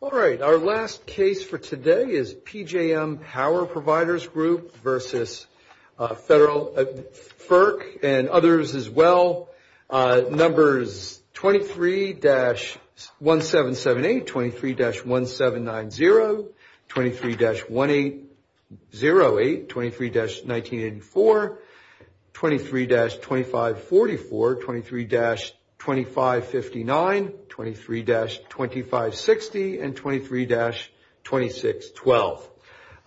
All right. Our last case for today is PJM Power Providers Group v. Federal FERC and others as well. Numbers 23-1778, 23-1790, 23-1808, 23-1984, 23-2544, 23-2559, 23-2560, and 23-2612.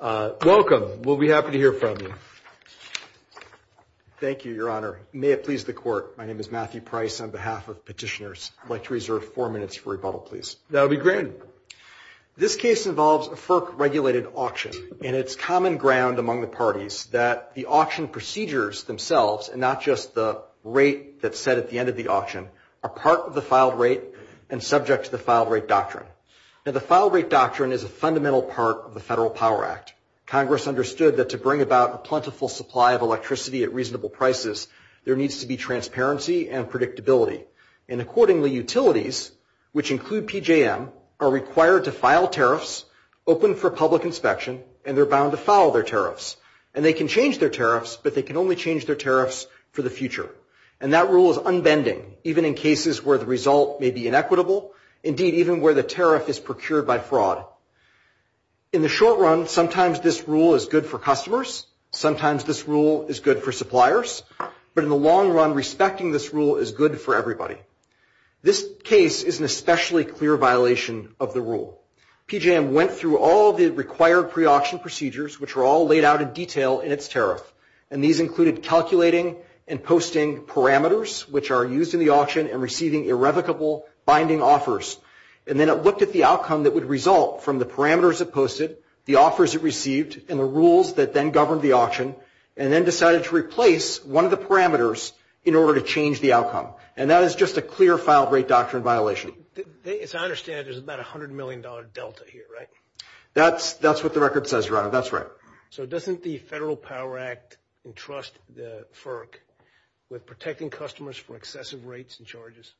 Welcome. We'll be happy to hear from you. Thank you, Your Honor. May it please the Court, my name is Matthew Price on behalf of petitioners. I'd like to reserve four minutes for rebuttal, please. That would be granted. This case involves a FERC-regulated auction, and it's common ground among the parties that the auction procedures themselves, and not just the rate that's set at the end of the auction, are part of the filed rate and subject to the filed rate doctrine. Now, the filed rate doctrine is a fundamental part of the Federal Power Act. Congress understood that to bring about a plentiful supply of electricity at reasonable prices, there needs to be transparency and predictability. And accordingly, utilities, which include PJM, are required to file tariffs, open for public inspection, and they're bound to file their tariffs. And they can change their tariffs, but they can only change their tariffs for the future. And that rule is unbending, even in cases where the result may be inequitable, indeed, even where the tariff is procured by fraud. In the short run, sometimes this rule is good for customers, sometimes this rule is good for suppliers, but in the long run, respecting this rule is good for everybody. This case is an especially clear violation of the rule. PJM went through all the required pre-auction procedures, which were all laid out in detail in its tariff, and these included calculating and posting parameters which are used in the auction and receiving irrevocable binding offers. And then it looked at the outcome that would result from the parameters it posted, the offers it received, and the rules that then governed the auction, and then decided to replace one of the parameters in order to change the outcome. And that is just a clear filed rate doctrine violation. As I understand it, there's about a $100 million delta here, right? That's what the record says, Your Honor. That's right. So doesn't the Federal Power Act entrust the FERC with protecting customers from excessive rates and charges?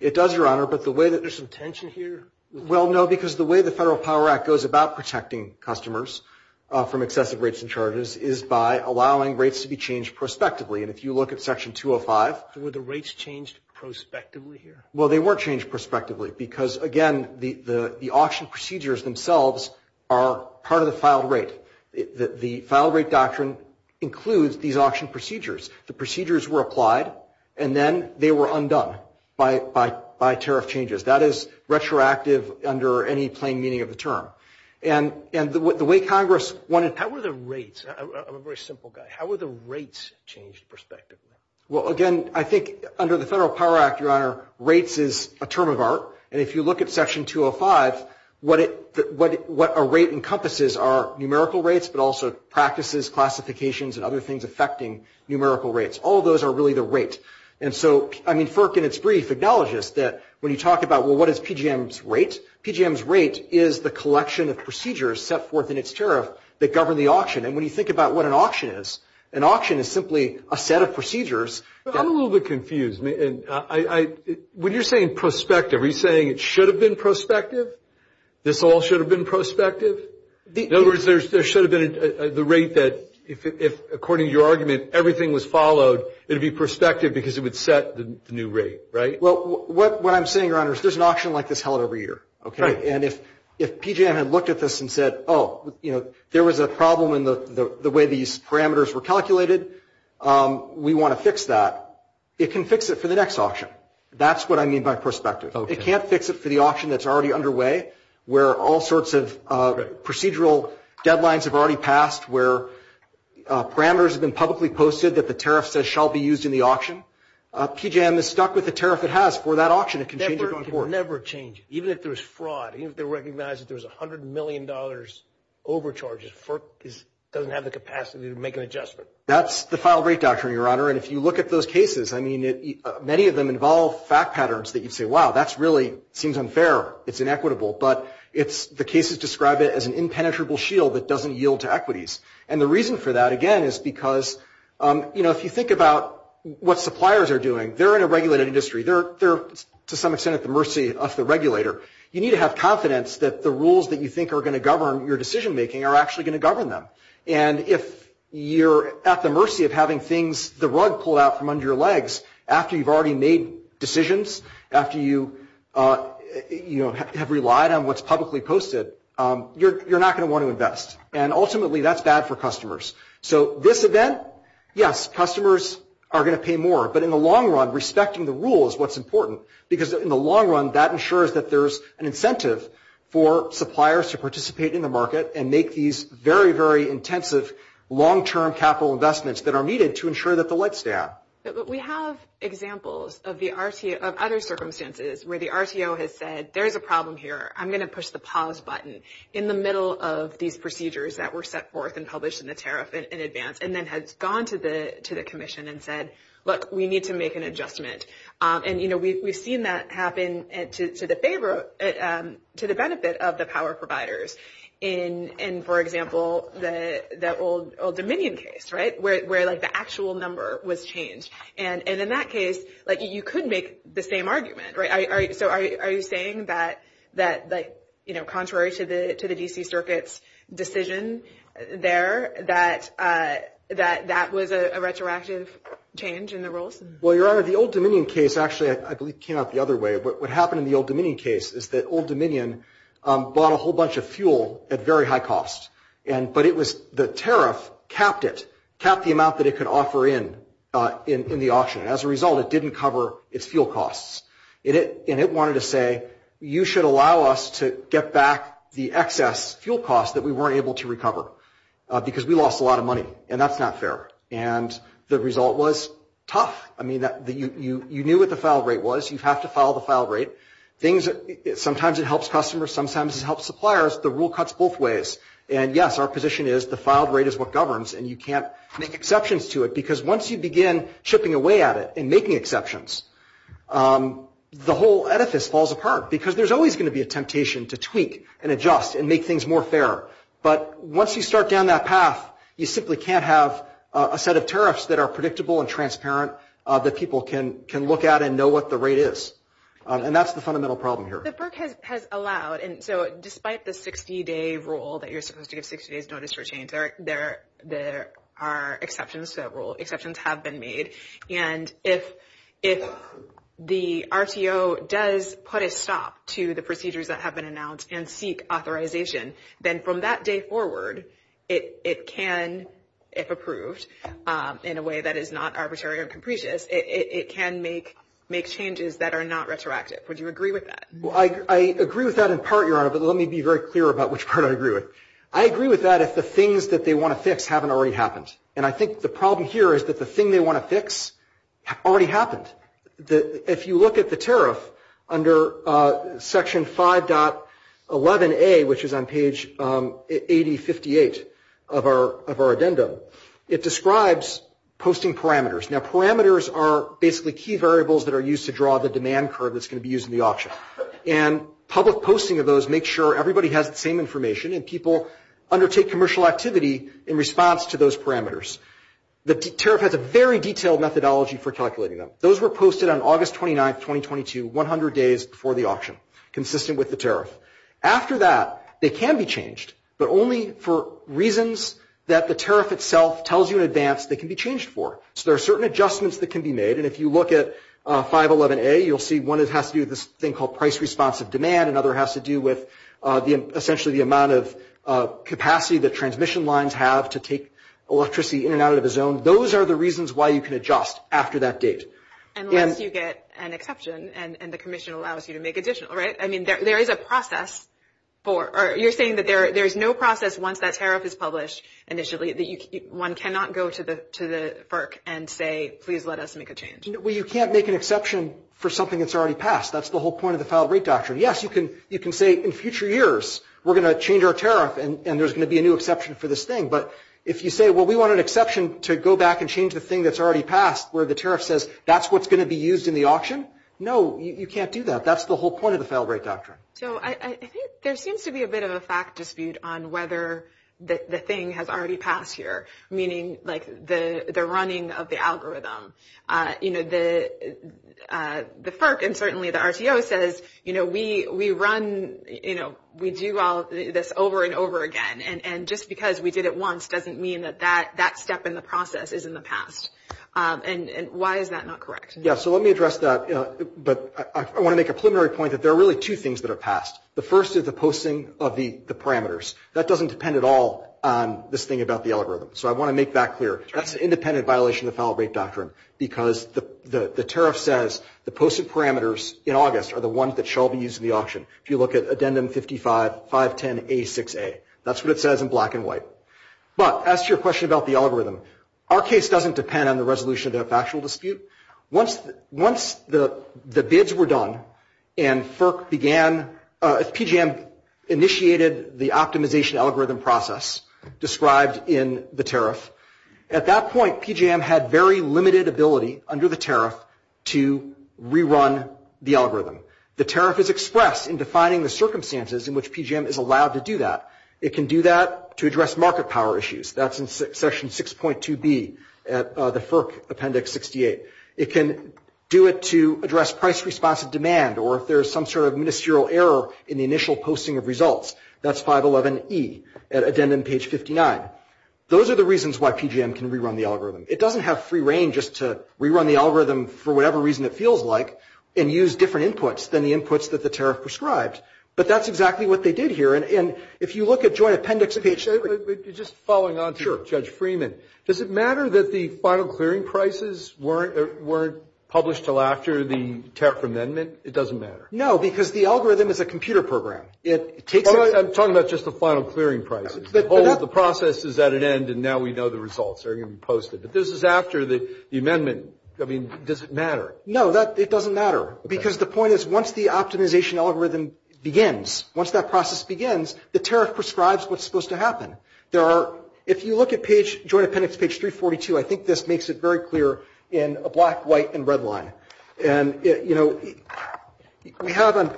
It does, Your Honor, but the way that— Is there some tension here? Well, no, because the way the Federal Power Act goes about protecting customers from excessive rates and charges is by allowing rates to be changed prospectively. And if you look at Section 205— Were the rates changed prospectively here? Well, they were changed prospectively because, again, the auction procedures themselves are part of the filed rate. The filed rate doctrine includes these auction procedures. The procedures were applied, and then they were undone by tariff changes. That is retroactive under any plain meaning of the term. And the way Congress wanted— How were the rates—I'm a very simple guy. How were the rates changed prospectively? Well, again, I think under the Federal Power Act, Your Honor, rates is a term of art. And if you look at Section 205, what a rate encompasses are numerical rates, but also practices, classifications, and other things affecting numerical rates. All of those are really the rate. And so, I mean, FERC in its brief acknowledges that when you talk about, well, what is PGM's rate, PGM's rate is the collection of procedures set forth in its tariff that govern the auction. And when you think about what an auction is, an auction is simply a set of procedures— I'm a little bit confused. When you're saying prospective, are you saying it should have been prospective? This all should have been prospective? In other words, there should have been the rate that if, according to your argument, everything was followed, it would be prospective because it would set the new rate, right? Well, what I'm saying, Your Honor, is there's an auction like this held every year. Right. And if PGM had looked at this and said, oh, you know, there was a problem in the way these parameters were calculated, we want to fix that, it can fix it for the next auction. That's what I mean by prospective. Okay. It can't fix it for the auction that's already underway where all sorts of procedural deadlines have already passed, where parameters have been publicly posted that the tariff says shall be used in the auction. PGM is stuck with the tariff it has for that auction. It can change it going forward. It will never change it. Even if there's fraud, even if they recognize that there's $100 million overcharges, FERC doesn't have the capacity to make an adjustment. That's the filed rate doctrine, Your Honor. And if you look at those cases, I mean, many of them involve fact patterns that you'd say, wow, that really seems unfair. It's inequitable. But the cases describe it as an impenetrable shield that doesn't yield to equities. And the reason for that, again, is because, you know, if you think about what suppliers are doing, they're in a regulated industry. They're to some extent at the mercy of the regulator. You need to have confidence that the rules that you think are going to govern your decision-making are actually going to govern them. And if you're at the mercy of having things, the rug pulled out from under your legs, after you've already made decisions, after you, you know, have relied on what's publicly posted, you're not going to want to invest. And ultimately, that's bad for customers. So this event, yes, customers are going to pay more. But in the long run, respecting the rules is what's important, because in the long run, that ensures that there's an incentive for suppliers to participate in the market and make these very, very intensive long-term capital investments that are needed to ensure that the lights stay out. But we have examples of other circumstances where the RTO has said, there's a problem here. I'm going to push the pause button in the middle of these procedures that were set forth and published in the tariff in advance and then has gone to the commission and said, look, we need to make an adjustment. And, you know, we've seen that happen to the benefit of the power providers in, for example, the old Dominion case, right, where, like, the actual number was changed. And in that case, like, you could make the same argument, right? So are you saying that, like, you know, contrary to the D.C. Circuit's decision there, that that was a retroactive change in the rules? Well, Your Honor, the old Dominion case actually, I believe, came out the other way. What happened in the old Dominion case is that old Dominion bought a whole bunch of fuel at very high cost. But it was the tariff capped it, capped the amount that it could offer in the auction. As a result, it didn't cover its fuel costs. And it wanted to say, you should allow us to get back the excess fuel costs that we weren't able to recover because we lost a lot of money, and that's not fair. And the result was tough. I mean, you knew what the filed rate was. You have to file the filed rate. Sometimes it helps customers. Sometimes it helps suppliers. The rule cuts both ways. And, yes, our position is the filed rate is what governs, and you can't make exceptions to it because once you begin chipping away at it and making exceptions, the whole edifice falls apart because there's always going to be a temptation to tweak and adjust and make things more fair. But once you start down that path, you simply can't have a set of tariffs that are predictable and transparent that people can look at and know what the rate is. And that's the fundamental problem here. The FERC has allowed, and so despite the 60-day rule that you're supposed to give 60 days notice for change, there are exceptions to that rule. Exceptions have been made. And if the RTO does put a stop to the procedures that have been announced and seek authorization, then from that day forward it can, if approved in a way that is not arbitrary or capricious, it can make changes that are not retroactive. Would you agree with that? I agree with that in part, Your Honor, but let me be very clear about which part I agree with. I agree with that if the things that they want to fix haven't already happened. And I think the problem here is that the thing they want to fix already happened. If you look at the tariff under Section 5.11a, which is on page 8058 of our addendum, it describes posting parameters. Now, parameters are basically key variables that are used to draw the demand curve that's going to be used in the auction. And public posting of those makes sure everybody has the same information and people undertake commercial activity in response to those parameters. The tariff has a very detailed methodology for calculating them. Those were posted on August 29, 2022, 100 days before the auction, consistent with the tariff. After that, they can be changed, but only for reasons that the tariff itself tells you in advance they can be changed for. So there are certain adjustments that can be made. And if you look at 5.11a, you'll see one has to do with this thing called price-responsive demand, and another has to do with essentially the amount of capacity that transmission lines have to take electricity in and out of a zone. Those are the reasons why you can adjust after that date. Unless you get an exception and the commission allows you to make additional, right? I mean, there is a process for – or you're saying that there is no process once that tariff is published initially, that one cannot go to the FERC and say, please let us make a change. Well, you can't make an exception for something that's already passed. That's the whole point of the valid rate doctrine. Yes, you can say, in future years, we're going to change our tariff, and there's going to be a new exception for this thing. But if you say, well, we want an exception to go back and change the thing that's already passed, where the tariff says that's what's going to be used in the auction, no, you can't do that. That's the whole point of the valid rate doctrine. So I think there seems to be a bit of a fact dispute on whether the thing has already passed here, meaning like the running of the algorithm. You know, the FERC and certainly the RTO says, you know, we run, you know, we do all this over and over again. And just because we did it once doesn't mean that that step in the process is in the past. And why is that not correct? Yeah, so let me address that. But I want to make a preliminary point that there are really two things that are passed. The first is the posting of the parameters. That doesn't depend at all on this thing about the algorithm. So I want to make that clear. That's an independent violation of the valid rate doctrine because the tariff says the posted parameters in August are the ones that shall be used in the auction. If you look at addendum 55, 510A6A, that's what it says in black and white. But as to your question about the algorithm, our case doesn't depend on the resolution of the factual dispute. Once the bids were done and FERC began, PGM initiated the optimization algorithm process described in the tariff, at that point PGM had very limited ability under the tariff to rerun the algorithm. The tariff is expressed in defining the circumstances in which PGM is allowed to do that. It can do that to address market power issues. That's in section 6.2B at the FERC appendix 68. It can do it to address price responsive demand or if there's some sort of ministerial error in the initial posting of results. That's 511E at addendum page 59. Those are the reasons why PGM can rerun the algorithm. It doesn't have free reign just to rerun the algorithm for whatever reason it feels like and use different inputs than the inputs that the tariff prescribed. But that's exactly what they did here. And if you look at joint appendix page. You're just following on to Judge Freeman. Does it matter that the final clearing prices weren't published until after the tariff amendment? It doesn't matter. No, because the algorithm is a computer program. I'm talking about just the final clearing prices. The process is at an end and now we know the results are going to be posted. But this is after the amendment. I mean, does it matter? No, it doesn't matter because the point is once the optimization algorithm begins, once that process begins, the tariff prescribes what's supposed to happen. There are, if you look at page, joint appendix page 342, I think this makes it very clear in black, white, and red line. And, you know, we have on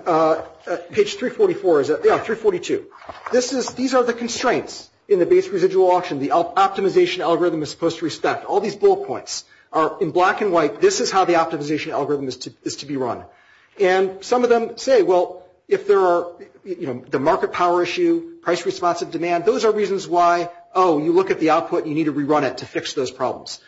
page 344, is it? Yeah, 342. These are the constraints in the base residual auction. The optimization algorithm is supposed to respect all these bull points. In black and white, this is how the optimization algorithm is to be run. And some of them say, well, if there are, you know, the market power issue, price responsive demand, those are reasons why, oh, you look at the output, you need to rerun it to fix those problems.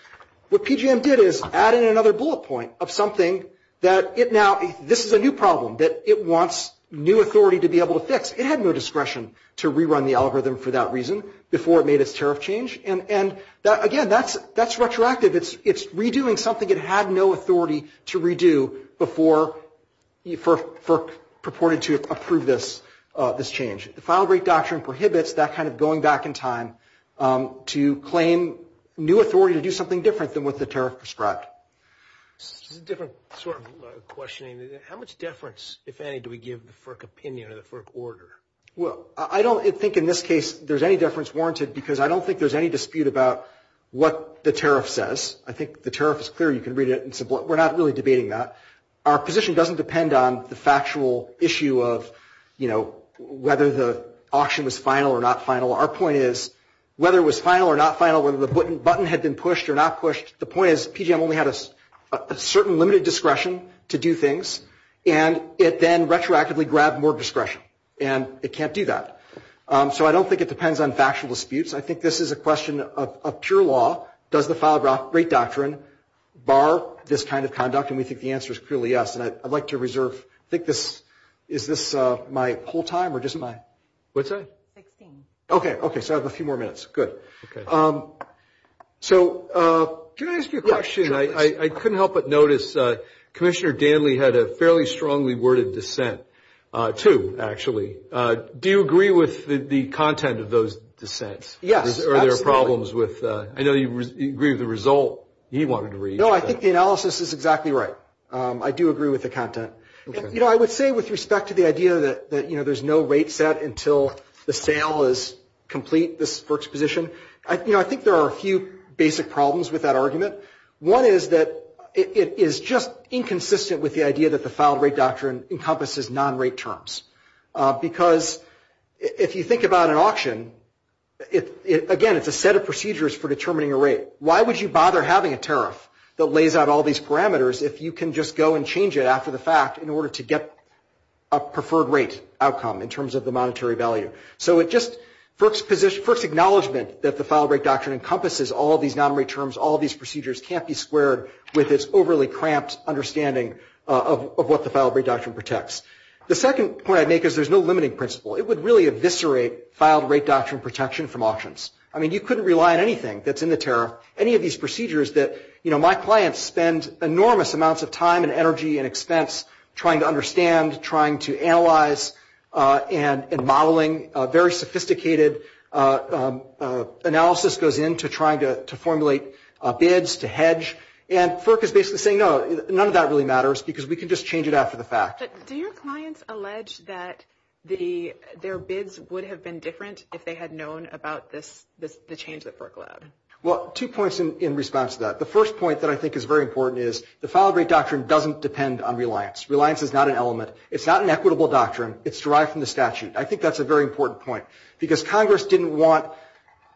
What PGM did is added another bullet point of something that it now, this is a new problem that it wants new authority to be able to fix. It had no discretion to rerun the algorithm for that reason before it made its tariff change. And, again, that's retroactive. It's redoing something it had no authority to redo before FERC purported to approve this change. The file break doctrine prohibits that kind of going back in time to claim new authority to do something different than what the tariff prescribed. This is a different sort of questioning. How much deference, if any, do we give the FERC opinion or the FERC order? Well, I don't think in this case there's any deference warranted because I don't think there's any dispute about what the tariff says. I think the tariff is clear. You can read it. We're not really debating that. Our position doesn't depend on the factual issue of, you know, whether the auction was final or not final. Our point is whether it was final or not final, whether the button had been pushed or not pushed, the point is PGM only had a certain limited discretion to do things, and it then retroactively grabbed more discretion, and it can't do that. So I don't think it depends on factual disputes. I think this is a question of pure law. Does the file break doctrine bar this kind of conduct? And we think the answer is clearly yes. And I'd like to reserve, I think this, is this my whole time or just my? What's that? Sixteen. Okay. Okay. So I have a few more minutes. Good. Okay. So can I ask you a question? I couldn't help but notice Commissioner Danley had a fairly strongly worded dissent, too, actually. Do you agree with the content of those dissents? Yes, absolutely. Or are there problems with? I know you agree with the result he wanted to reach. No, I think the analysis is exactly right. I do agree with the content. You know, I would say with respect to the idea that, you know, there's no rate set until the sale is complete for exposition, you know, I think there are a few basic problems with that argument. One is that it is just inconsistent with the idea that the filed rate doctrine encompasses non-rate terms because if you think about an auction, again, it's a set of procedures for determining a rate. Why would you bother having a tariff that lays out all these parameters if you can just go and change it after the fact in order to get a preferred rate outcome in terms of the monetary value? So it just first acknowledgment that the filed rate doctrine encompasses all these non-rate terms, all these procedures, can't be squared with its overly cramped understanding of what the filed rate doctrine protects. The second point I'd make is there's no limiting principle. It would really eviscerate filed rate doctrine protection from auctions. I mean, you couldn't rely on anything that's in the tariff, any of these procedures that, you know, my clients spend enormous amounts of time and energy and expense trying to understand, trying to analyze, and modeling. Very sophisticated analysis goes into trying to formulate bids, to hedge, and FERC is basically saying, no, none of that really matters because we can just change it after the fact. Do your clients allege that their bids would have been different if they had known about this, the change that FERC allowed? Well, two points in response to that. The first point that I think is very important is the filed rate doctrine doesn't depend on reliance. Reliance is not an element. It's not an equitable doctrine. It's derived from the statute. I think that's a very important point because Congress didn't want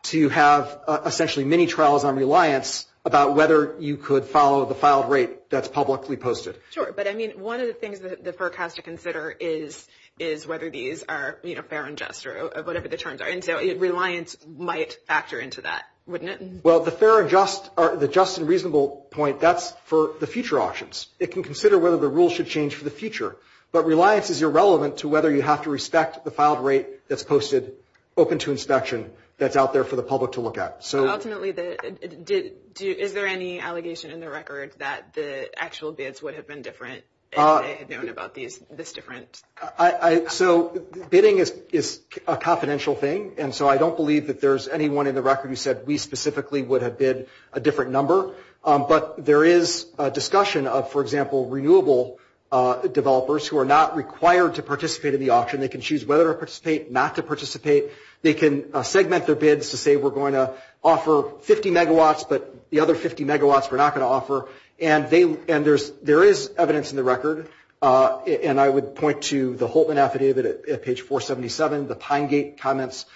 to have, essentially, many trials on reliance about whether you could follow the filed rate that's publicly posted. Sure, but, I mean, one of the things that the FERC has to consider is whether these are, you know, fair and just or whatever the terms are, and so reliance might factor into that, wouldn't it? Well, the fair and just, or the just and reasonable point, that's for the future auctions. It can consider whether the rules should change for the future, but reliance is irrelevant to whether you have to respect the filed rate that's posted, open to inspection, that's out there for the public to look at. Ultimately, is there any allegation in the record that the actual bids would have been different if they had known about this different? So bidding is a confidential thing, and so I don't believe that there's anyone in the record who said we specifically would have bid a different number. But there is a discussion of, for example, renewable developers who are not required to participate in the auction. They can choose whether to participate, not to participate. They can segment their bids to say we're going to offer 50 megawatts, but the other 50 megawatts we're not going to offer, and there is evidence in the record, and I would point to the Holtman Affidavit at page 477, the Pinegate comments.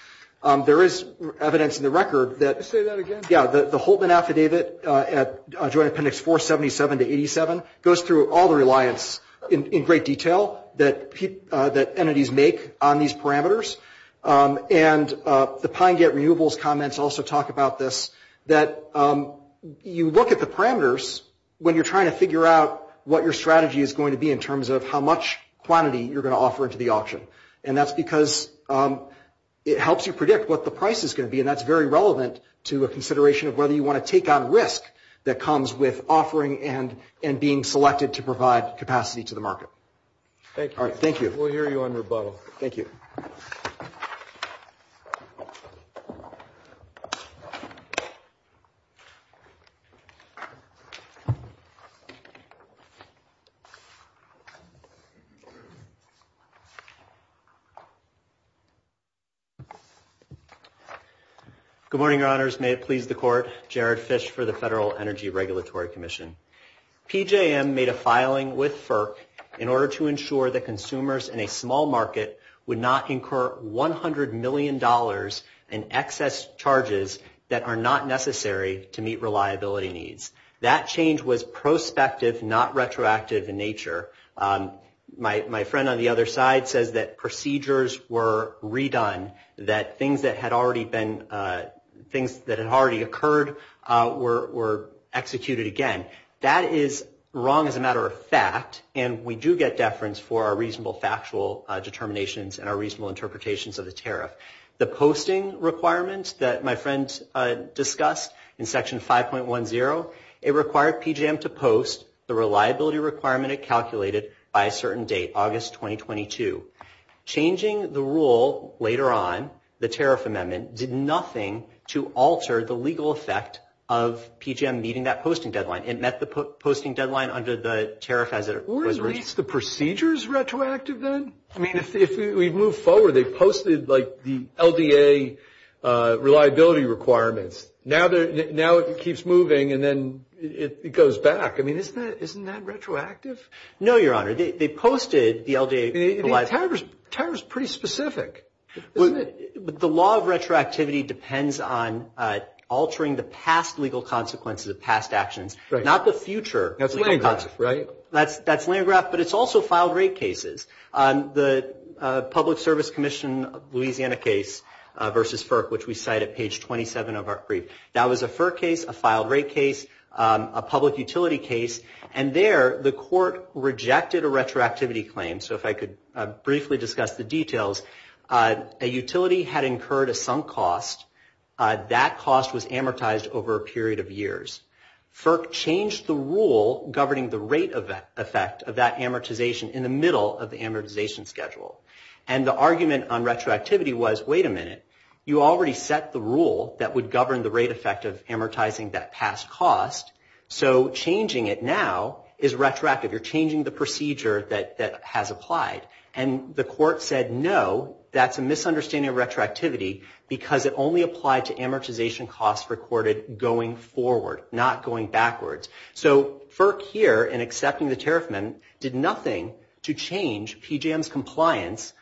There is evidence in the record that the Holtman Affidavit at Joint Appendix 477 to 87 goes through all the reliance in great detail that entities make on these parameters, and the Pinegate renewables comments also talk about this, that you look at the parameters when you're trying to figure out what your strategy is going to be in terms of how much quantity you're going to offer into the auction, and that's because it helps you predict what the price is going to be, and that's very relevant to a consideration of whether you want to take on risk that comes with offering and being selected to provide capacity to the market. Thank you. All right, thank you. We'll hear you on rebuttal. Thank you. Good morning, Your Honors. May it please the Court. Jared Fish for the Federal Energy Regulatory Commission. PJM made a filing with FERC in order to ensure that consumers in a small market would not incur $100 million in excess charges that are not necessary to meet reliability needs. That change was prospective, not retroactive in nature. My friend on the other side says that procedures were redone, that things that had already occurred were executed again. That is wrong as a matter of fact, and we do get deference for our reasonable factual determinations and our reasonable interpretations of the tariff. The posting requirements that my friend discussed in Section 5.10, it required PJM to post the reliability requirement it calculated by a certain date, August 2022. Changing the rule later on, the tariff amendment, did nothing to alter the legal effect of PJM meeting that posting deadline. It met the posting deadline under the tariff as it was written. Weren't the procedures retroactive then? I mean, if we move forward, they posted like the LDA reliability requirements. Now it keeps moving and then it goes back. I mean, isn't that retroactive? No, Your Honor. They posted the LDA reliability. Tariff is pretty specific, isn't it? The law of retroactivity depends on altering the past legal consequences of past actions, not the future legal consequences. That's Landgraf, right? That's Landgraf, but it's also filed rate cases. The Public Service Commission Louisiana case versus FERC, which we cite at page 27 of our brief, that was a FERC case, a filed rate case, a public utility case, and there the court rejected a retroactivity claim. So if I could briefly discuss the details, a utility had incurred a sunk cost. That cost was amortized over a period of years. FERC changed the rule governing the rate effect of that amortization in the middle of the amortization schedule. And the argument on retroactivity was, wait a minute, you already set the rule that would govern the rate effect of amortizing that past cost. So changing it now is retroactive. You're changing the procedure that has applied. And the court said, no, that's a misunderstanding of retroactivity because it only applied to amortization costs recorded going forward, not going backwards. So FERC here in accepting the tariff amendment did nothing to change PJM's compliance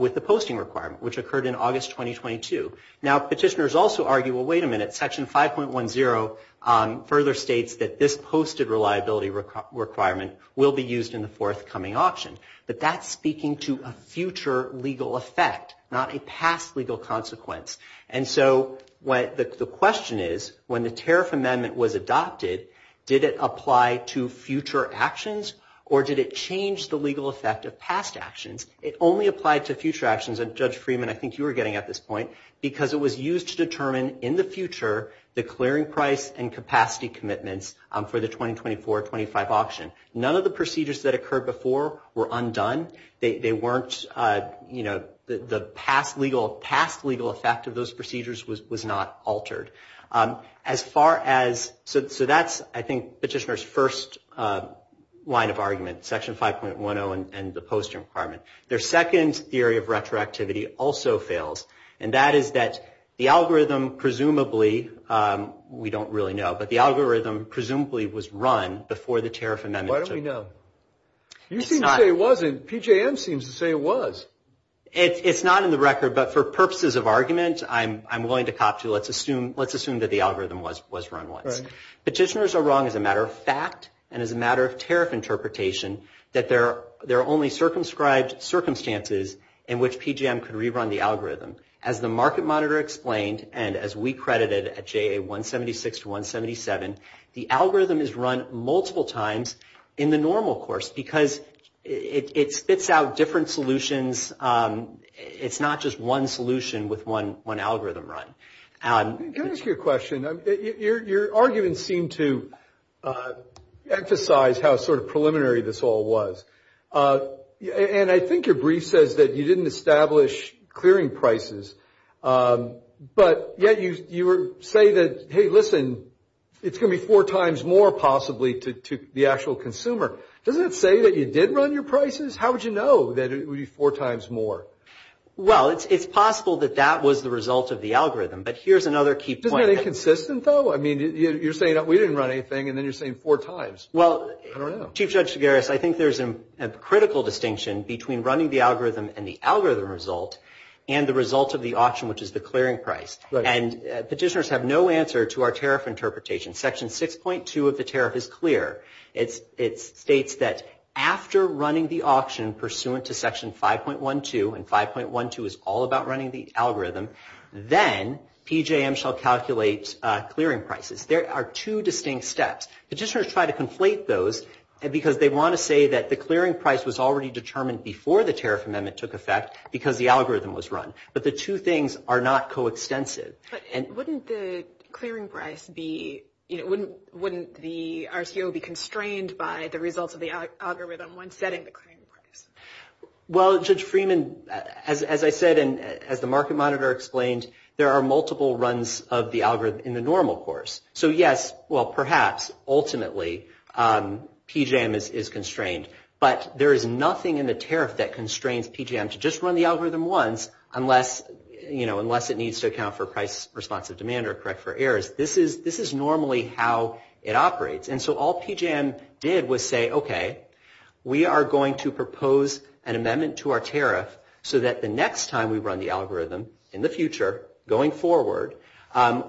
with the posting requirement, which occurred in August 2022. Now, petitioners also argue, well, wait a minute, section 5.10 further states that this posted reliability requirement will be used in the forthcoming auction. But that's speaking to a future legal effect, not a past legal consequence. And so the question is, when the tariff amendment was adopted, did it apply to future actions or did it change the legal effect of past actions? It only applied to future actions, and Judge Freeman, I think you were getting at this point, because it was used to determine in the future the clearing price and capacity commitments for the 2024-25 auction. None of the procedures that occurred before were undone. They weren't, you know, the past legal effect of those procedures was not altered. As far as, so that's, I think, petitioner's first line of argument, section 5.10 and the posting requirement. Their second theory of retroactivity also fails, and that is that the algorithm presumably, we don't really know, but the algorithm presumably was run before the tariff amendment. Why don't we know? You seem to say it wasn't. PJM seems to say it was. It's not in the record, but for purposes of argument, I'm willing to cop to. Let's assume that the algorithm was run once. Petitioners are wrong as a matter of fact and as a matter of tariff interpretation that there are only circumscribed circumstances in which PJM can rerun the algorithm. As the market monitor explained and as we credited at JA 176 to 177, the algorithm is run multiple times in the normal course because it spits out different solutions. It's not just one solution with one algorithm run. Can I ask you a question? Your argument seemed to emphasize how sort of preliminary this all was, and I think your brief says that you didn't establish clearing prices, but yet you say that, hey, listen, it's going to be four times more possibly to the actual consumer. Doesn't it say that you did run your prices? How would you know that it would be four times more? Well, it's possible that that was the result of the algorithm, but here's another key point. Isn't that inconsistent, though? I mean, you're saying we didn't run anything, and then you're saying four times. Well, Chief Judge Figueres, I think there's a critical distinction between running the algorithm and the algorithm result and the result of the auction, which is the clearing price. And petitioners have no answer to our tariff interpretation. Section 6.2 of the tariff is clear. It states that after running the auction pursuant to Section 5.12, and 5.12 is all about running the algorithm, then PJM shall calculate clearing prices. There are two distinct steps. Petitioners try to conflate those because they want to say that the clearing price was already determined before the tariff amendment took effect because the algorithm was run. But the two things are not coextensive. But wouldn't the clearing price be, you know, wouldn't the RCO be constrained by the results of the algorithm when setting the clearing price? Well, Judge Freeman, as I said and as the market monitor explained, there are multiple runs of the algorithm in the normal course. So, yes, well, perhaps, ultimately, PJM is constrained. But there is nothing in the tariff that constrains PJM to just run the algorithm once unless, you know, unless it needs to account for price responsive demand or correct for errors. This is normally how it operates. And so all PJM did was say, OK, we are going to propose an amendment to our tariff so that the next time we run the algorithm in the future, going forward,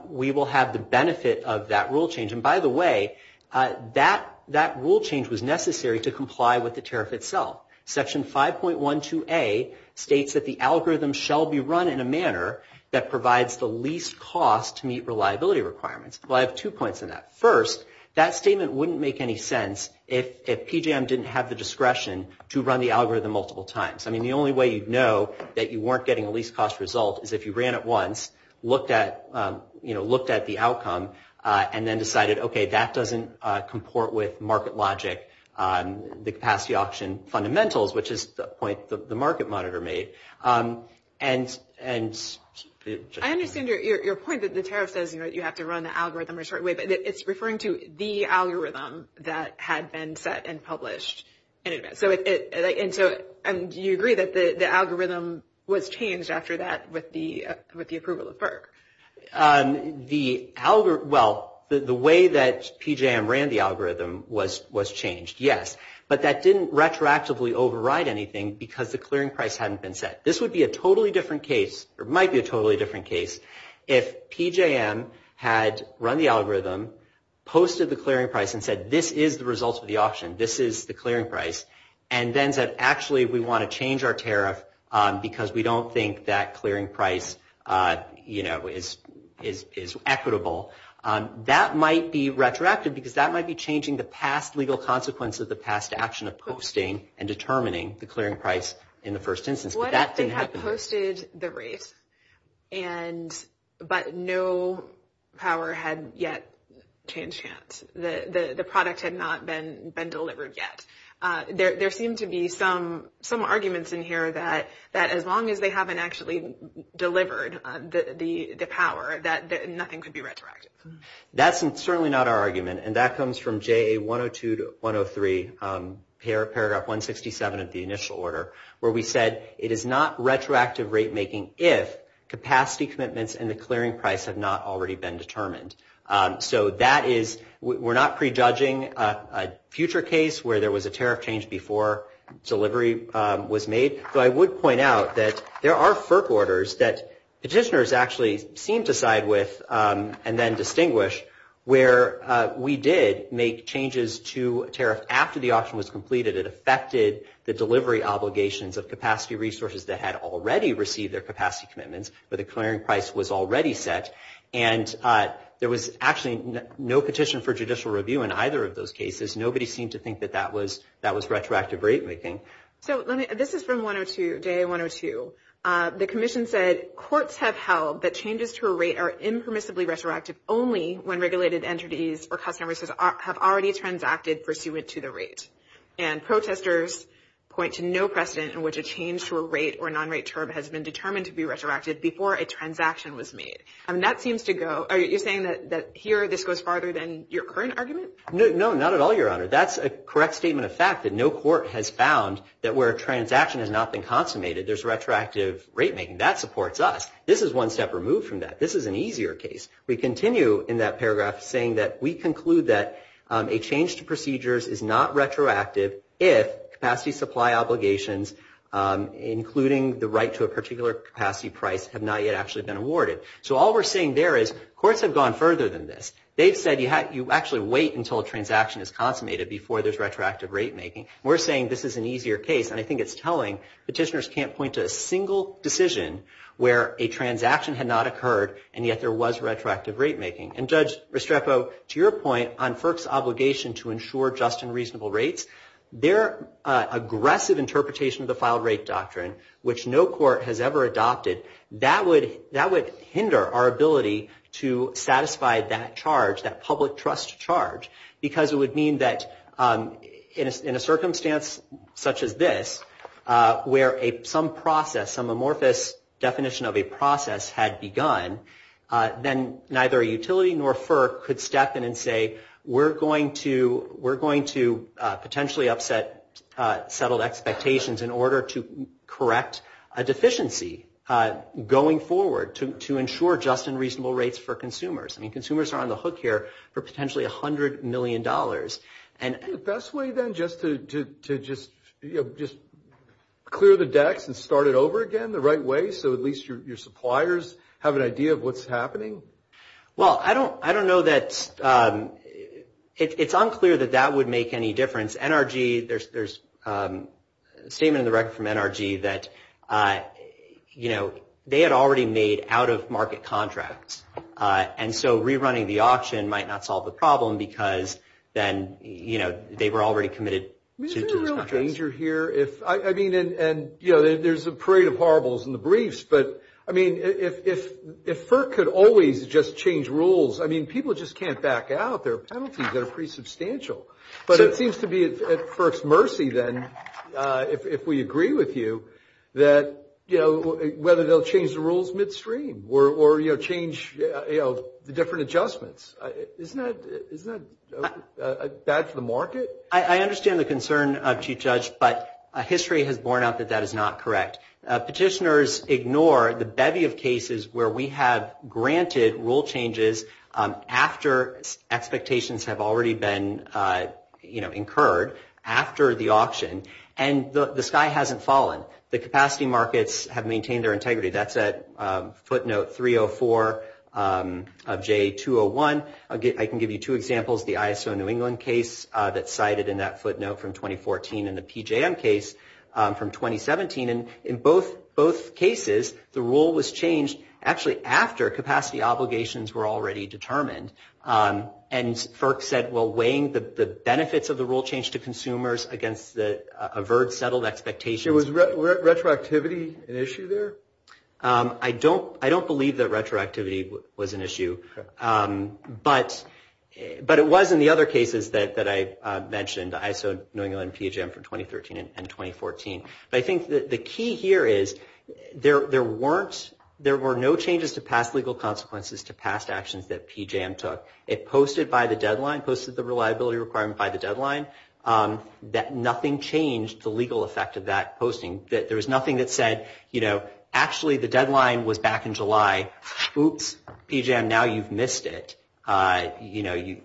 we will have the benefit of that rule change. And by the way, that rule change was necessary to comply with the tariff itself. Section 5.12A states that the algorithm shall be run in a manner that provides the least cost to meet reliability requirements. Well, I have two points in that. First, that statement wouldn't make any sense if PJM didn't have the discretion to run the algorithm multiple times. I mean, the only way you'd know that you weren't getting a least cost result is if you ran it once, looked at, you know, looked at the outcome and then decided, OK, that doesn't comport with market logic, the capacity auction fundamentals, which is the point the market monitor made. I understand your point that the tariff says, you know, you have to run the algorithm a certain way, but it's referring to the algorithm that had been set and published. And so do you agree that the algorithm was changed after that with the approval of BERC? The algorithm, well, the way that PJM ran the algorithm was changed, yes. But that didn't retroactively override anything because the clearing price hadn't been set. This would be a totally different case, or might be a totally different case, if PJM had run the algorithm, posted the clearing price and said, this is the result of the auction, this is the clearing price, and then said, actually, we want to change our tariff because we don't think that clearing price, you know, is equitable. That might be retroactive because that might be changing the past legal consequence of the past action of posting and determining the clearing price in the first instance. But that didn't happen. What if they had posted the rate, but no power had yet changed hands? The product had not been delivered yet. There seem to be some arguments in here that as long as they haven't actually delivered the power, that nothing could be retroactive. That's certainly not our argument. And that comes from JA 102-103, paragraph 167 of the initial order, where we said it is not retroactive rate making if capacity commitments and the clearing price have not already been determined. So that is, we're not prejudging a future case where there was a tariff change before delivery was made. But I would point out that there are FERC orders that petitioners actually seem to side with and then distinguish where we did make changes to tariff after the auction was completed. It affected the delivery obligations of capacity resources that had already received their capacity commitments where the clearing price was already set. And there was actually no petition for judicial review in either of those cases. Nobody seemed to think that that was retroactive rate making. So this is from JA 102. The commission said courts have held that changes to a rate are impermissibly retroactive only when regulated entities or customers have already transacted pursuant to the rate. And protesters point to no precedent in which a change to a rate or non-rate term has been determined to be retroactive before a transaction was made. And that seems to go, are you saying that here this goes farther than your current argument? No, not at all, Your Honor. That's a correct statement of fact that no court has found that where a transaction has not been consummated, there's retroactive rate making. That supports us. This is one step removed from that. This is an easier case. We continue in that paragraph saying that we conclude that a change to procedures is not retroactive if capacity supply obligations, including the right to a particular capacity price, have not yet actually been awarded. So all we're saying there is courts have gone further than this. They've said you actually wait until a transaction is consummated before there's retroactive rate making. We're saying this is an easier case, and I think it's telling. Petitioners can't point to a single decision where a transaction had not occurred and yet there was retroactive rate making. And Judge Restrepo, to your point on FERC's obligation to ensure just and reasonable rates, their aggressive interpretation of the filed rate doctrine, which no court has ever adopted, that would hinder our ability to satisfy that charge, that public trust charge, because it would mean that in a circumstance such as this, where some process, some amorphous definition of a process had begun, then neither a utility nor FERC could step in and say, we're going to potentially upset settled expectations in order to correct a deficiency going forward to ensure just and reasonable rates for consumers. I mean, consumers are on the hook here for potentially $100 million. Is the best way then just to clear the decks and start it over again the right way so at least your suppliers have an idea of what's happening? Well, I don't know that – it's unclear that that would make any difference. NRG, there's a statement in the record from NRG that, you know, they had already made out-of-market contracts. And so rerunning the auction might not solve the problem because then, you know, they were already committed to those contracts. I mean, is there a real danger here if – I mean, and, you know, there's a parade of horribles in the briefs. But, I mean, if FERC could always just change rules, I mean, people just can't back out. There are penalties that are pretty substantial. But it seems to be at FERC's mercy then, if we agree with you, that, you know, whether they'll change the rules midstream or, you know, change, you know, the different adjustments. Isn't that bad for the market? I understand the concern of Chief Judge, but history has borne out that that is not correct. Petitioners ignore the bevy of cases where we have granted rule changes after expectations have already been, you know, incurred after the auction. And the sky hasn't fallen. The capacity markets have maintained their integrity. That's at footnote 304 of J201. I can give you two examples, the ISO New England case that's cited in that footnote from 2014 and the PJM case from 2017. In both cases, the rule was changed actually after capacity obligations were already determined. And FERC said, well, weighing the benefits of the rule change to consumers against the avert settled expectations. Was retroactivity an issue there? I don't believe that retroactivity was an issue. But it was in the other cases that I mentioned, ISO New England, PJM from 2013 and 2014. But I think the key here is there were no changes to past legal consequences to past actions that PJM took. It posted by the deadline, posted the reliability requirement by the deadline, that nothing changed the legal effect of that posting. There was nothing that said, you know, actually the deadline was back in July. Oops, PJM, now you've missed it. You know,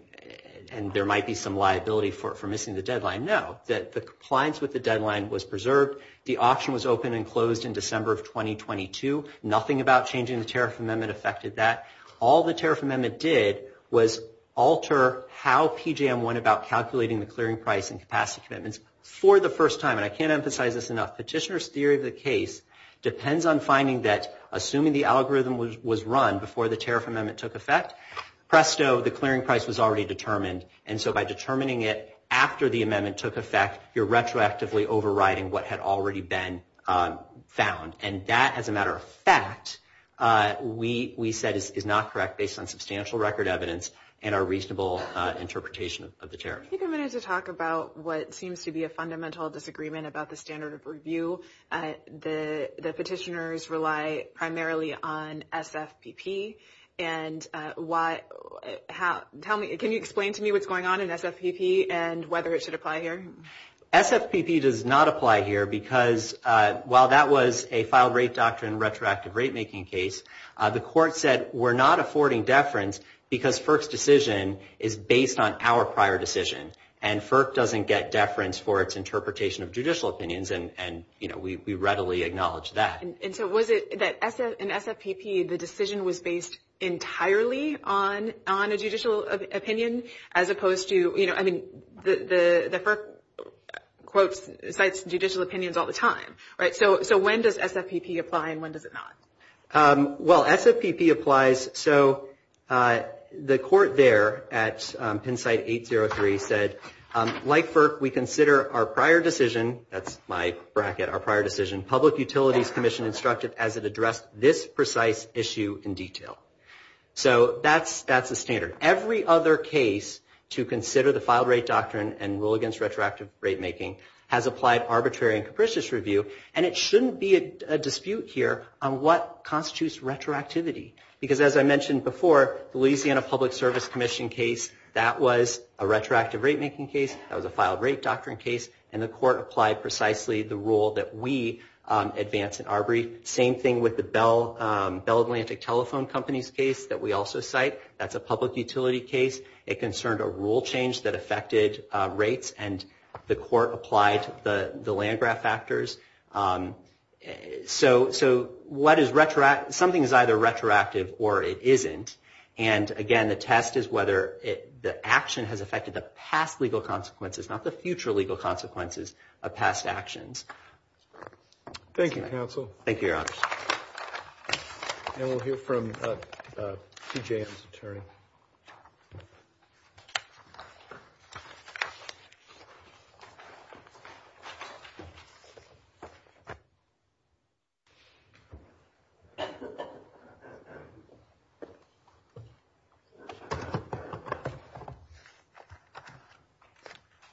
and there might be some liability for missing the deadline. No, the compliance with the deadline was preserved. The auction was open and closed in December of 2022. Nothing about changing the tariff amendment affected that. All the tariff amendment did was alter how PJM went about calculating the clearing price and capacity commitments for the first time. And I can't emphasize this enough. Petitioner's theory of the case depends on finding that, assuming the algorithm was run before the tariff amendment took effect, presto, the clearing price was already determined. And so by determining it after the amendment took effect, you're retroactively overriding what had already been found. And that, as a matter of fact, we said is not correct based on substantial record evidence and a reasonable interpretation of the tariff. I think I'm going to talk about what seems to be a fundamental disagreement about the standard of review. The petitioners rely primarily on SFPP. And can you explain to me what's going on in SFPP and whether it should apply here? SFPP does not apply here because while that was a filed rate doctrine retroactive rate making case, the court said we're not affording deference because FERC's decision is based on our prior decision. And FERC doesn't get deference for its interpretation of judicial opinions. And, you know, we readily acknowledge that. And so was it that in SFPP the decision was based entirely on a judicial opinion as opposed to, you know, I mean, the FERC quotes, cites judicial opinions all the time, right? So when does SFPP apply and when does it not? Well, SFPP applies. So the court there at PennSite 803 said, like FERC, we consider our prior decision. That's my bracket, our prior decision. Public Utilities Commission instructed as it addressed this precise issue in detail. So that's the standard. Every other case to consider the filed rate doctrine and rule against retroactive rate making has applied arbitrary and capricious review, and it shouldn't be a dispute here on what constitutes retroactivity. Because as I mentioned before, the Louisiana Public Service Commission case, that was a retroactive rate making case, that was a filed rate doctrine case, and the court applied precisely the rule that we advanced in our brief. Same thing with the Bell Atlantic Telephone Company's case that we also cite. That's a public utility case. It concerned a rule change that affected rates, and the court applied the land-grant factors. So something is either retroactive or it isn't. And, again, the test is whether the action has affected the past legal consequences, not the future legal consequences of past actions. Thank you, Your Honor. And we'll hear from PJM's attorney.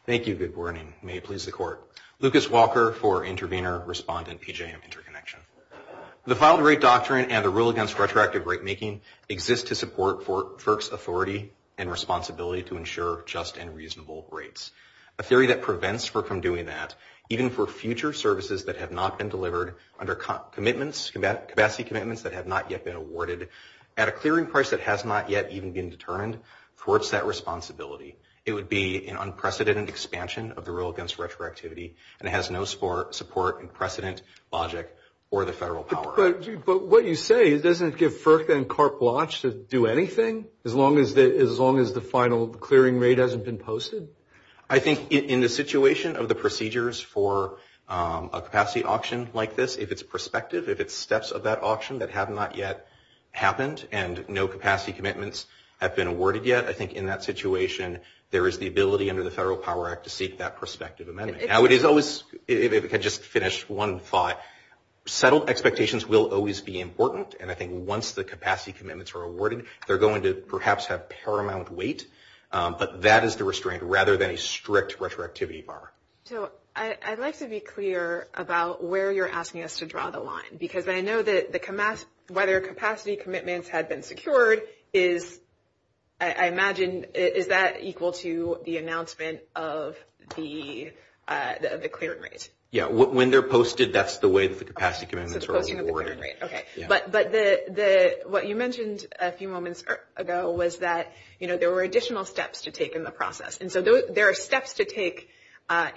Thank you. Good morning. May it please the court. Lucas Walker for intervener, respondent, PJM Interconnection. The filed rate doctrine and the rule against retroactive rate making exist to support FERC's authority and responsibility to ensure just and reasonable rates. A theory that prevents FERC from doing that, even for future services that have not been delivered, under commitments, capacity commitments that have not yet been awarded, at a clearing price that has not yet even been determined, thwarts that responsibility. It would be an unprecedented expansion of the rule against retroactivity, and it has no support and precedent logic for the federal power. But what you say, doesn't it give FERC and CARP watch to do anything, as long as the final clearing rate hasn't been posted? I think in the situation of the procedures for a capacity auction like this, if it's prospective, if it's steps of that auction that have not yet happened and no capacity commitments have been awarded yet, I think in that situation there is the ability under the Federal Power Act to seek that prospective amendment. Now it is always, if I could just finish one thought, settled expectations will always be important, and I think once the capacity commitments are awarded, they're going to perhaps have paramount weight, but that is the restraint rather than a strict retroactivity bar. So I'd like to be clear about where you're asking us to draw the line, because I know that whether capacity commitments had been secured is, I imagine, is that equal to the announcement of the clearing rate? Yeah, when they're posted, that's the way that the capacity commitments are awarded. Okay, but what you mentioned a few moments ago was that, you know, there were additional steps to take in the process, and so there are steps to take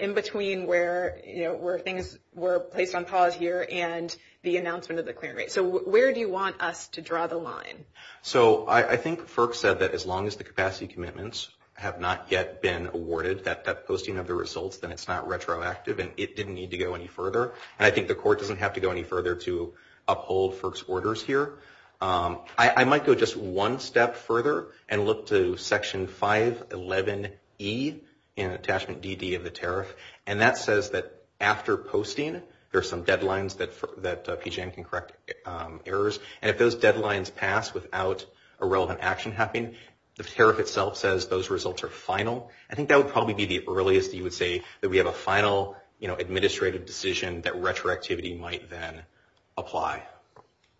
in between where, you know, where things were placed on pause here and the announcement of the clearing rate. So where do you want us to draw the line? So I think FERC said that as long as the capacity commitments have not yet been awarded, that posting of the results, then it's not retroactive and it didn't need to go any further, and I think the Court doesn't have to go any further to uphold FERC's orders here. I might go just one step further and look to Section 511E in Attachment DD of the Tariff, and that says that after posting, there are some deadlines that PGM can correct errors, and if those deadlines pass without a relevant action happening, the tariff itself says those results are final. I think that would probably be the earliest you would say that we have a final, you know, administrative decision that retroactivity might then apply.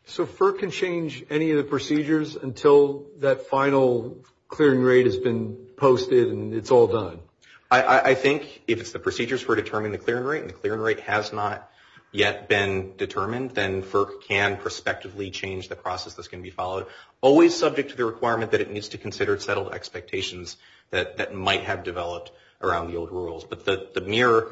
So FERC can change any of the procedures until that final clearing rate has been posted and it's all done? I think if it's the procedures for determining the clearing rate, and the clearing rate has not yet been determined, then FERC can prospectively change the process that's going to be followed, always subject to the requirement that it needs to consider settled expectations that might have developed around the old rules. But the mere,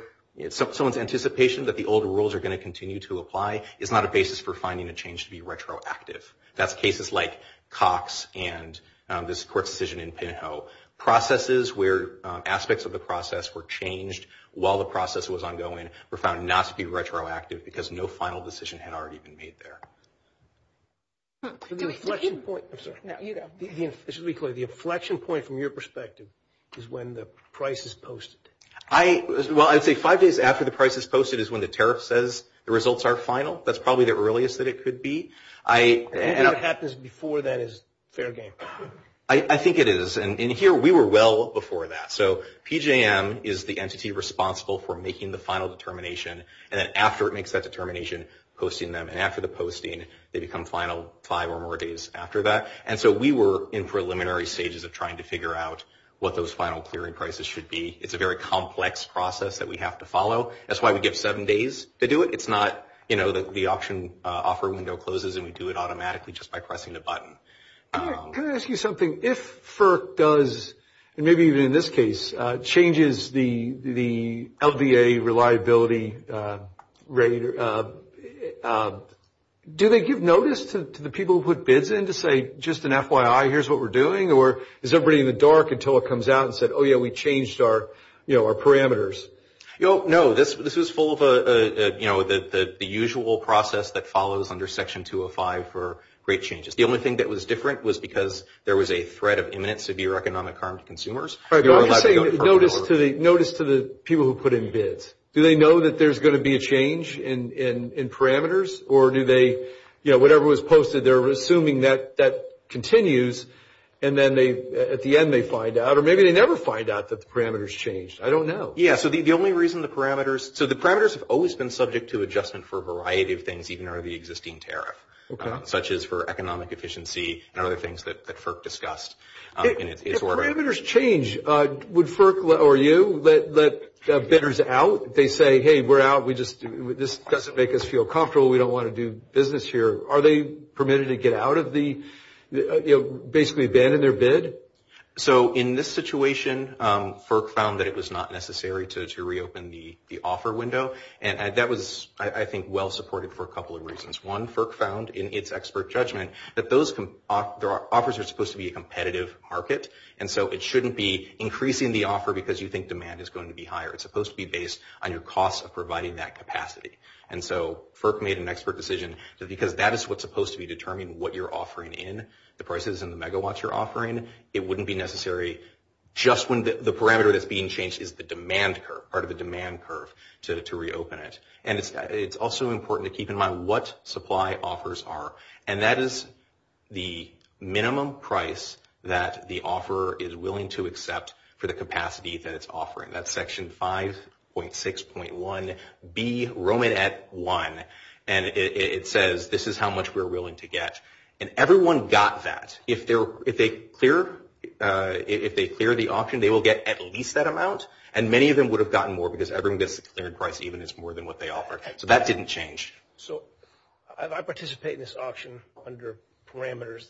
someone's anticipation that the old rules are going to continue to apply is not a basis for finding a change to be retroactive. That's cases like Cox and this Court's decision in Pinhoe. Processes where aspects of the process were changed while the process was ongoing were found not to be retroactive because no final decision had already been made there. The inflection point from your perspective is when the price is posted. Well, I'd say five days after the price is posted is when the tariff says the results are final. That's probably the earliest that it could be. What happens before that is fair game. I think it is. And here we were well before that. So PJM is the entity responsible for making the final determination, and then after it makes that determination, posting them. And after the posting, they become final five or more days after that. And so we were in preliminary stages of trying to figure out what those final clearing prices should be. It's a very complex process that we have to follow. That's why we give seven days to do it. It's not, you know, the option offer window closes and we do it automatically just by pressing the button. Can I ask you something? If FERC does, and maybe even in this case, changes the LVA reliability rate, do they give notice to the people who put bids in to say, just an FYI, here's what we're doing? Or is everybody in the dark until it comes out and says, oh, yeah, we changed our parameters? No, this is full of, you know, the usual process that follows under Section 205 for great changes. The only thing that was different was because there was a threat of imminent severe economic harm to consumers. I'm just saying notice to the people who put in bids. Do they know that there's going to be a change in parameters? Or do they, you know, whatever was posted, they're assuming that that continues, and then at the end they find out, or maybe they never find out that the parameters changed. I don't know. Yeah, so the only reason the parameters – so the parameters have always been subject to adjustment for a variety of things even under the existing tariff, such as for economic efficiency and other things that FERC discussed. If parameters change, would FERC or you let bidders out? They say, hey, we're out. This doesn't make us feel comfortable. We don't want to do business here. Are they permitted to get out of the – basically abandon their bid? So in this situation, FERC found that it was not necessary to reopen the offer window, and that was, I think, well-supported for a couple of reasons. One, FERC found in its expert judgment that those – offers are supposed to be a competitive market, and so it shouldn't be increasing the offer because you think demand is going to be higher. It's supposed to be based on your cost of providing that capacity. And so FERC made an expert decision that because that is what's supposed to be determining what you're offering in, the prices and the megawatts you're offering, it wouldn't be necessary just when the parameter that's being changed is the demand curve, part of the demand curve, to reopen it. And it's also important to keep in mind what supply offers are, and that is the minimum price that the offeror is willing to accept for the capacity that it's offering. That's Section 5.6.1B, Romanette 1, and it says this is how much we're willing to get. And everyone got that. If they clear the option, they will get at least that amount, and many of them would have gotten more because everyone gets a clear price, even if it's more than what they offer. So that didn't change. So I participate in this auction under parameters,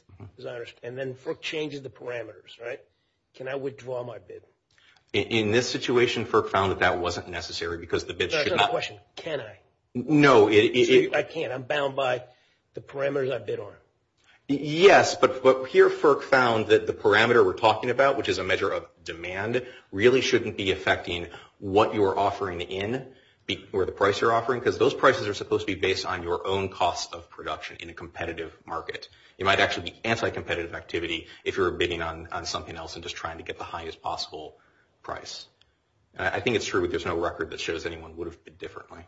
and then FERC changes the parameters, right? Can I withdraw my bid? In this situation, FERC found that that wasn't necessary because the bids should not – I can't. I'm bound by the parameters I bid on. Yes, but here FERC found that the parameter we're talking about, which is a measure of demand, really shouldn't be affecting what you are offering in where the price you're offering because those prices are supposed to be based on your own cost of production in a competitive market. It might actually be anti-competitive activity if you're bidding on something else and just trying to get the highest possible price. I think it's true that there's no record that shows anyone would have bid differently.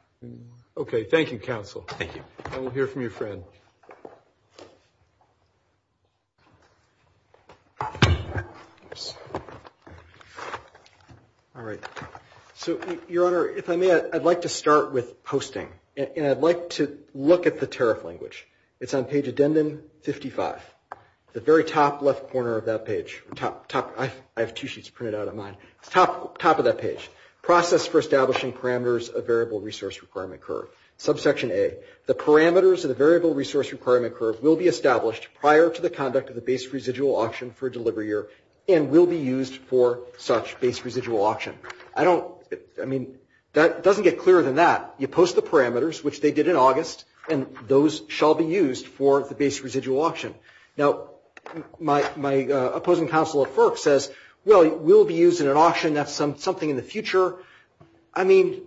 Okay. Thank you, counsel. Thank you. And we'll hear from your friend. All right. So, Your Honor, if I may, I'd like to start with posting, and I'd like to look at the tariff language. It's on page addendum 55, the very top left corner of that page. I have two sheets printed out of mine. Top of that page. Process for establishing parameters of variable resource requirement curve. Subsection A. The parameters of the variable resource requirement curve will be established prior to the conduct of the base residual auction for a delivery year and will be used for such base residual auction. I don't, I mean, that doesn't get clearer than that. You post the parameters, which they did in August, and those shall be used for the base residual auction. Now, my opposing counsel at FERC says, well, it will be used in an auction. That's something in the future. I mean,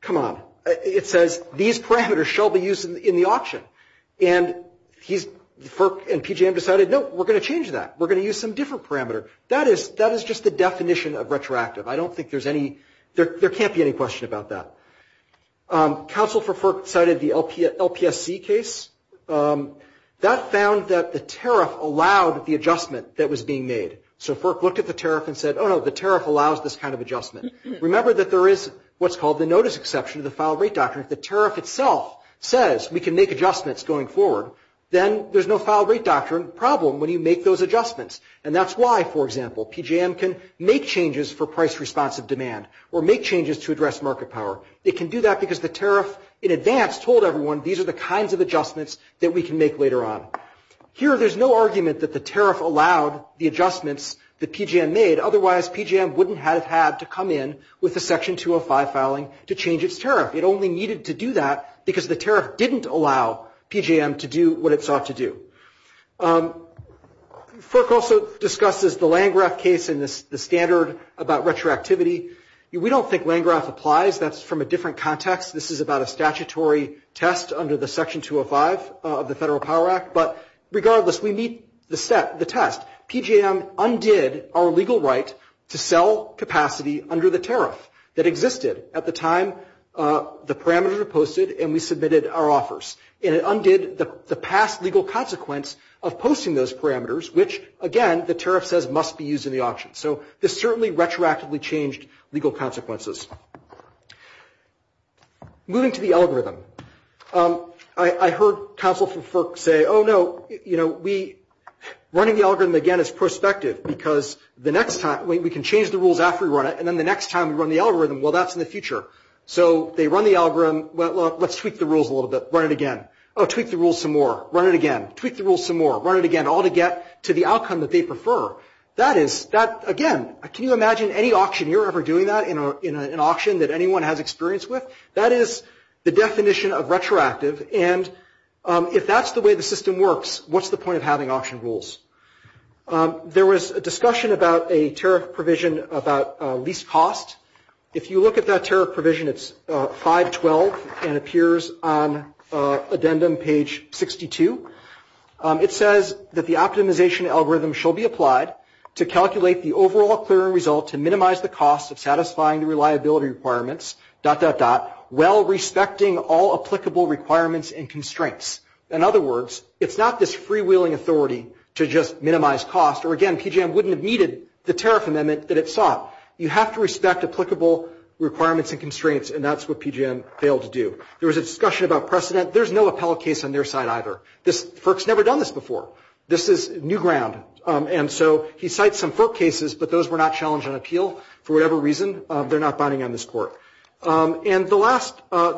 come on. It says these parameters shall be used in the auction. And FERC and PJM decided, no, we're going to change that. We're going to use some different parameter. That is just the definition of retroactive. I don't think there's any, there can't be any question about that. Counsel for FERC cited the LPSC case. That found that the tariff allowed the adjustment that was being made. So FERC looked at the tariff and said, oh, no, the tariff allows this kind of adjustment. Remember that there is what's called the notice exception of the file rate doctrine. If the tariff itself says we can make adjustments going forward, then there's no file rate doctrine problem when you make those adjustments. And that's why, for example, PJM can make changes for price responsive demand or make changes to address market power. It can do that because the tariff in advance told everyone these are the kinds of adjustments that we can make later on. Here there's no argument that the tariff allowed the adjustments that PJM made. Otherwise, PJM wouldn't have had to come in with a Section 205 filing to change its tariff. It only needed to do that because the tariff didn't allow PJM to do what it sought to do. FERC also discusses the Landgraf case and the standard about retroactivity. We don't think Landgraf applies. That's from a different context. This is about a statutory test under the Section 205 of the Federal Power Act. But regardless, we meet the test. PJM undid our legal right to sell capacity under the tariff that existed at the time the parameters were posted and we submitted our offers. And it undid the past legal consequence of posting those parameters, which, again, the tariff says must be used in the auction. So this certainly retroactively changed legal consequences. Moving to the algorithm. I heard counsel from FERC say, oh, no, running the algorithm again is prospective because we can change the rules after we run it, and then the next time we run the algorithm, well, that's in the future. So they run the algorithm. Let's tweak the rules a little bit. Run it again. Oh, tweak the rules some more. Run it again. Tweak the rules some more. Run it again, all to get to the outcome that they prefer. That is, again, can you imagine any auctioneer ever doing that in an auction that anyone has experience with? That is the definition of retroactive. And if that's the way the system works, what's the point of having auction rules? There was a discussion about a tariff provision about lease cost. If you look at that tariff provision, it's 512 and appears on addendum page 62. It says that the optimization algorithm shall be applied to calculate the overall clearing result to minimize the cost of satisfying the reliability requirements, dot, dot, dot, while respecting all applicable requirements and constraints. In other words, it's not this freewheeling authority to just minimize cost, or, again, PJM wouldn't have needed the tariff amendment that it sought. You have to respect applicable requirements and constraints, and that's what PJM failed to do. There was a discussion about precedent. There's no appellate case on their side either. FERC's never done this before. This is new ground. And so he cites some FERC cases, but those were not challenged on appeal for whatever reason. They're not binding on this court. And the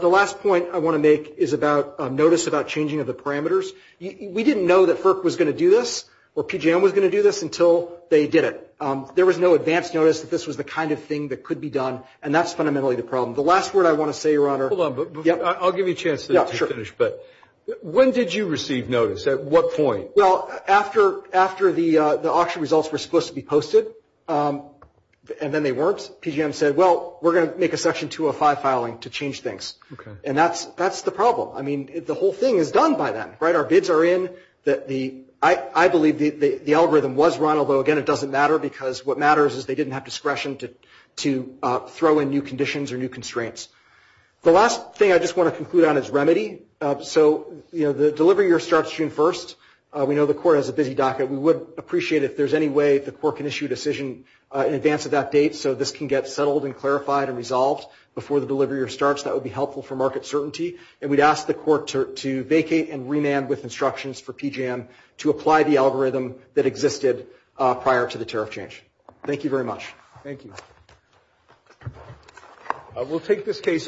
last point I want to make is about notice about changing of the parameters. We didn't know that FERC was going to do this or PJM was going to do this until they did it. There was no advance notice that this was the kind of thing that could be done, The last word I want to say, Your Honor. Hold on. I'll give you a chance to finish, but when did you receive notice? At what point? Well, after the auction results were supposed to be posted, and then they weren't, PJM said, well, we're going to make a Section 205 filing to change things. Okay. And that's the problem. I mean, the whole thing is done by then, right? Our bids are in. I believe the algorithm was run, although, again, it doesn't matter because what matters is they didn't have discretion to throw in new conditions or new constraints. The last thing I just want to conclude on is remedy. So, you know, the delivery year starts June 1st. We know the Court has a busy docket. We would appreciate if there's any way the Court can issue a decision in advance of that date so this can get settled and clarified and resolved before the delivery year starts. That would be helpful for market certainty. And we'd ask the Court to vacate and remand with instructions for PJM to apply the algorithm that existed prior to the tariff change. Thank you very much. Thank you. We'll take this case.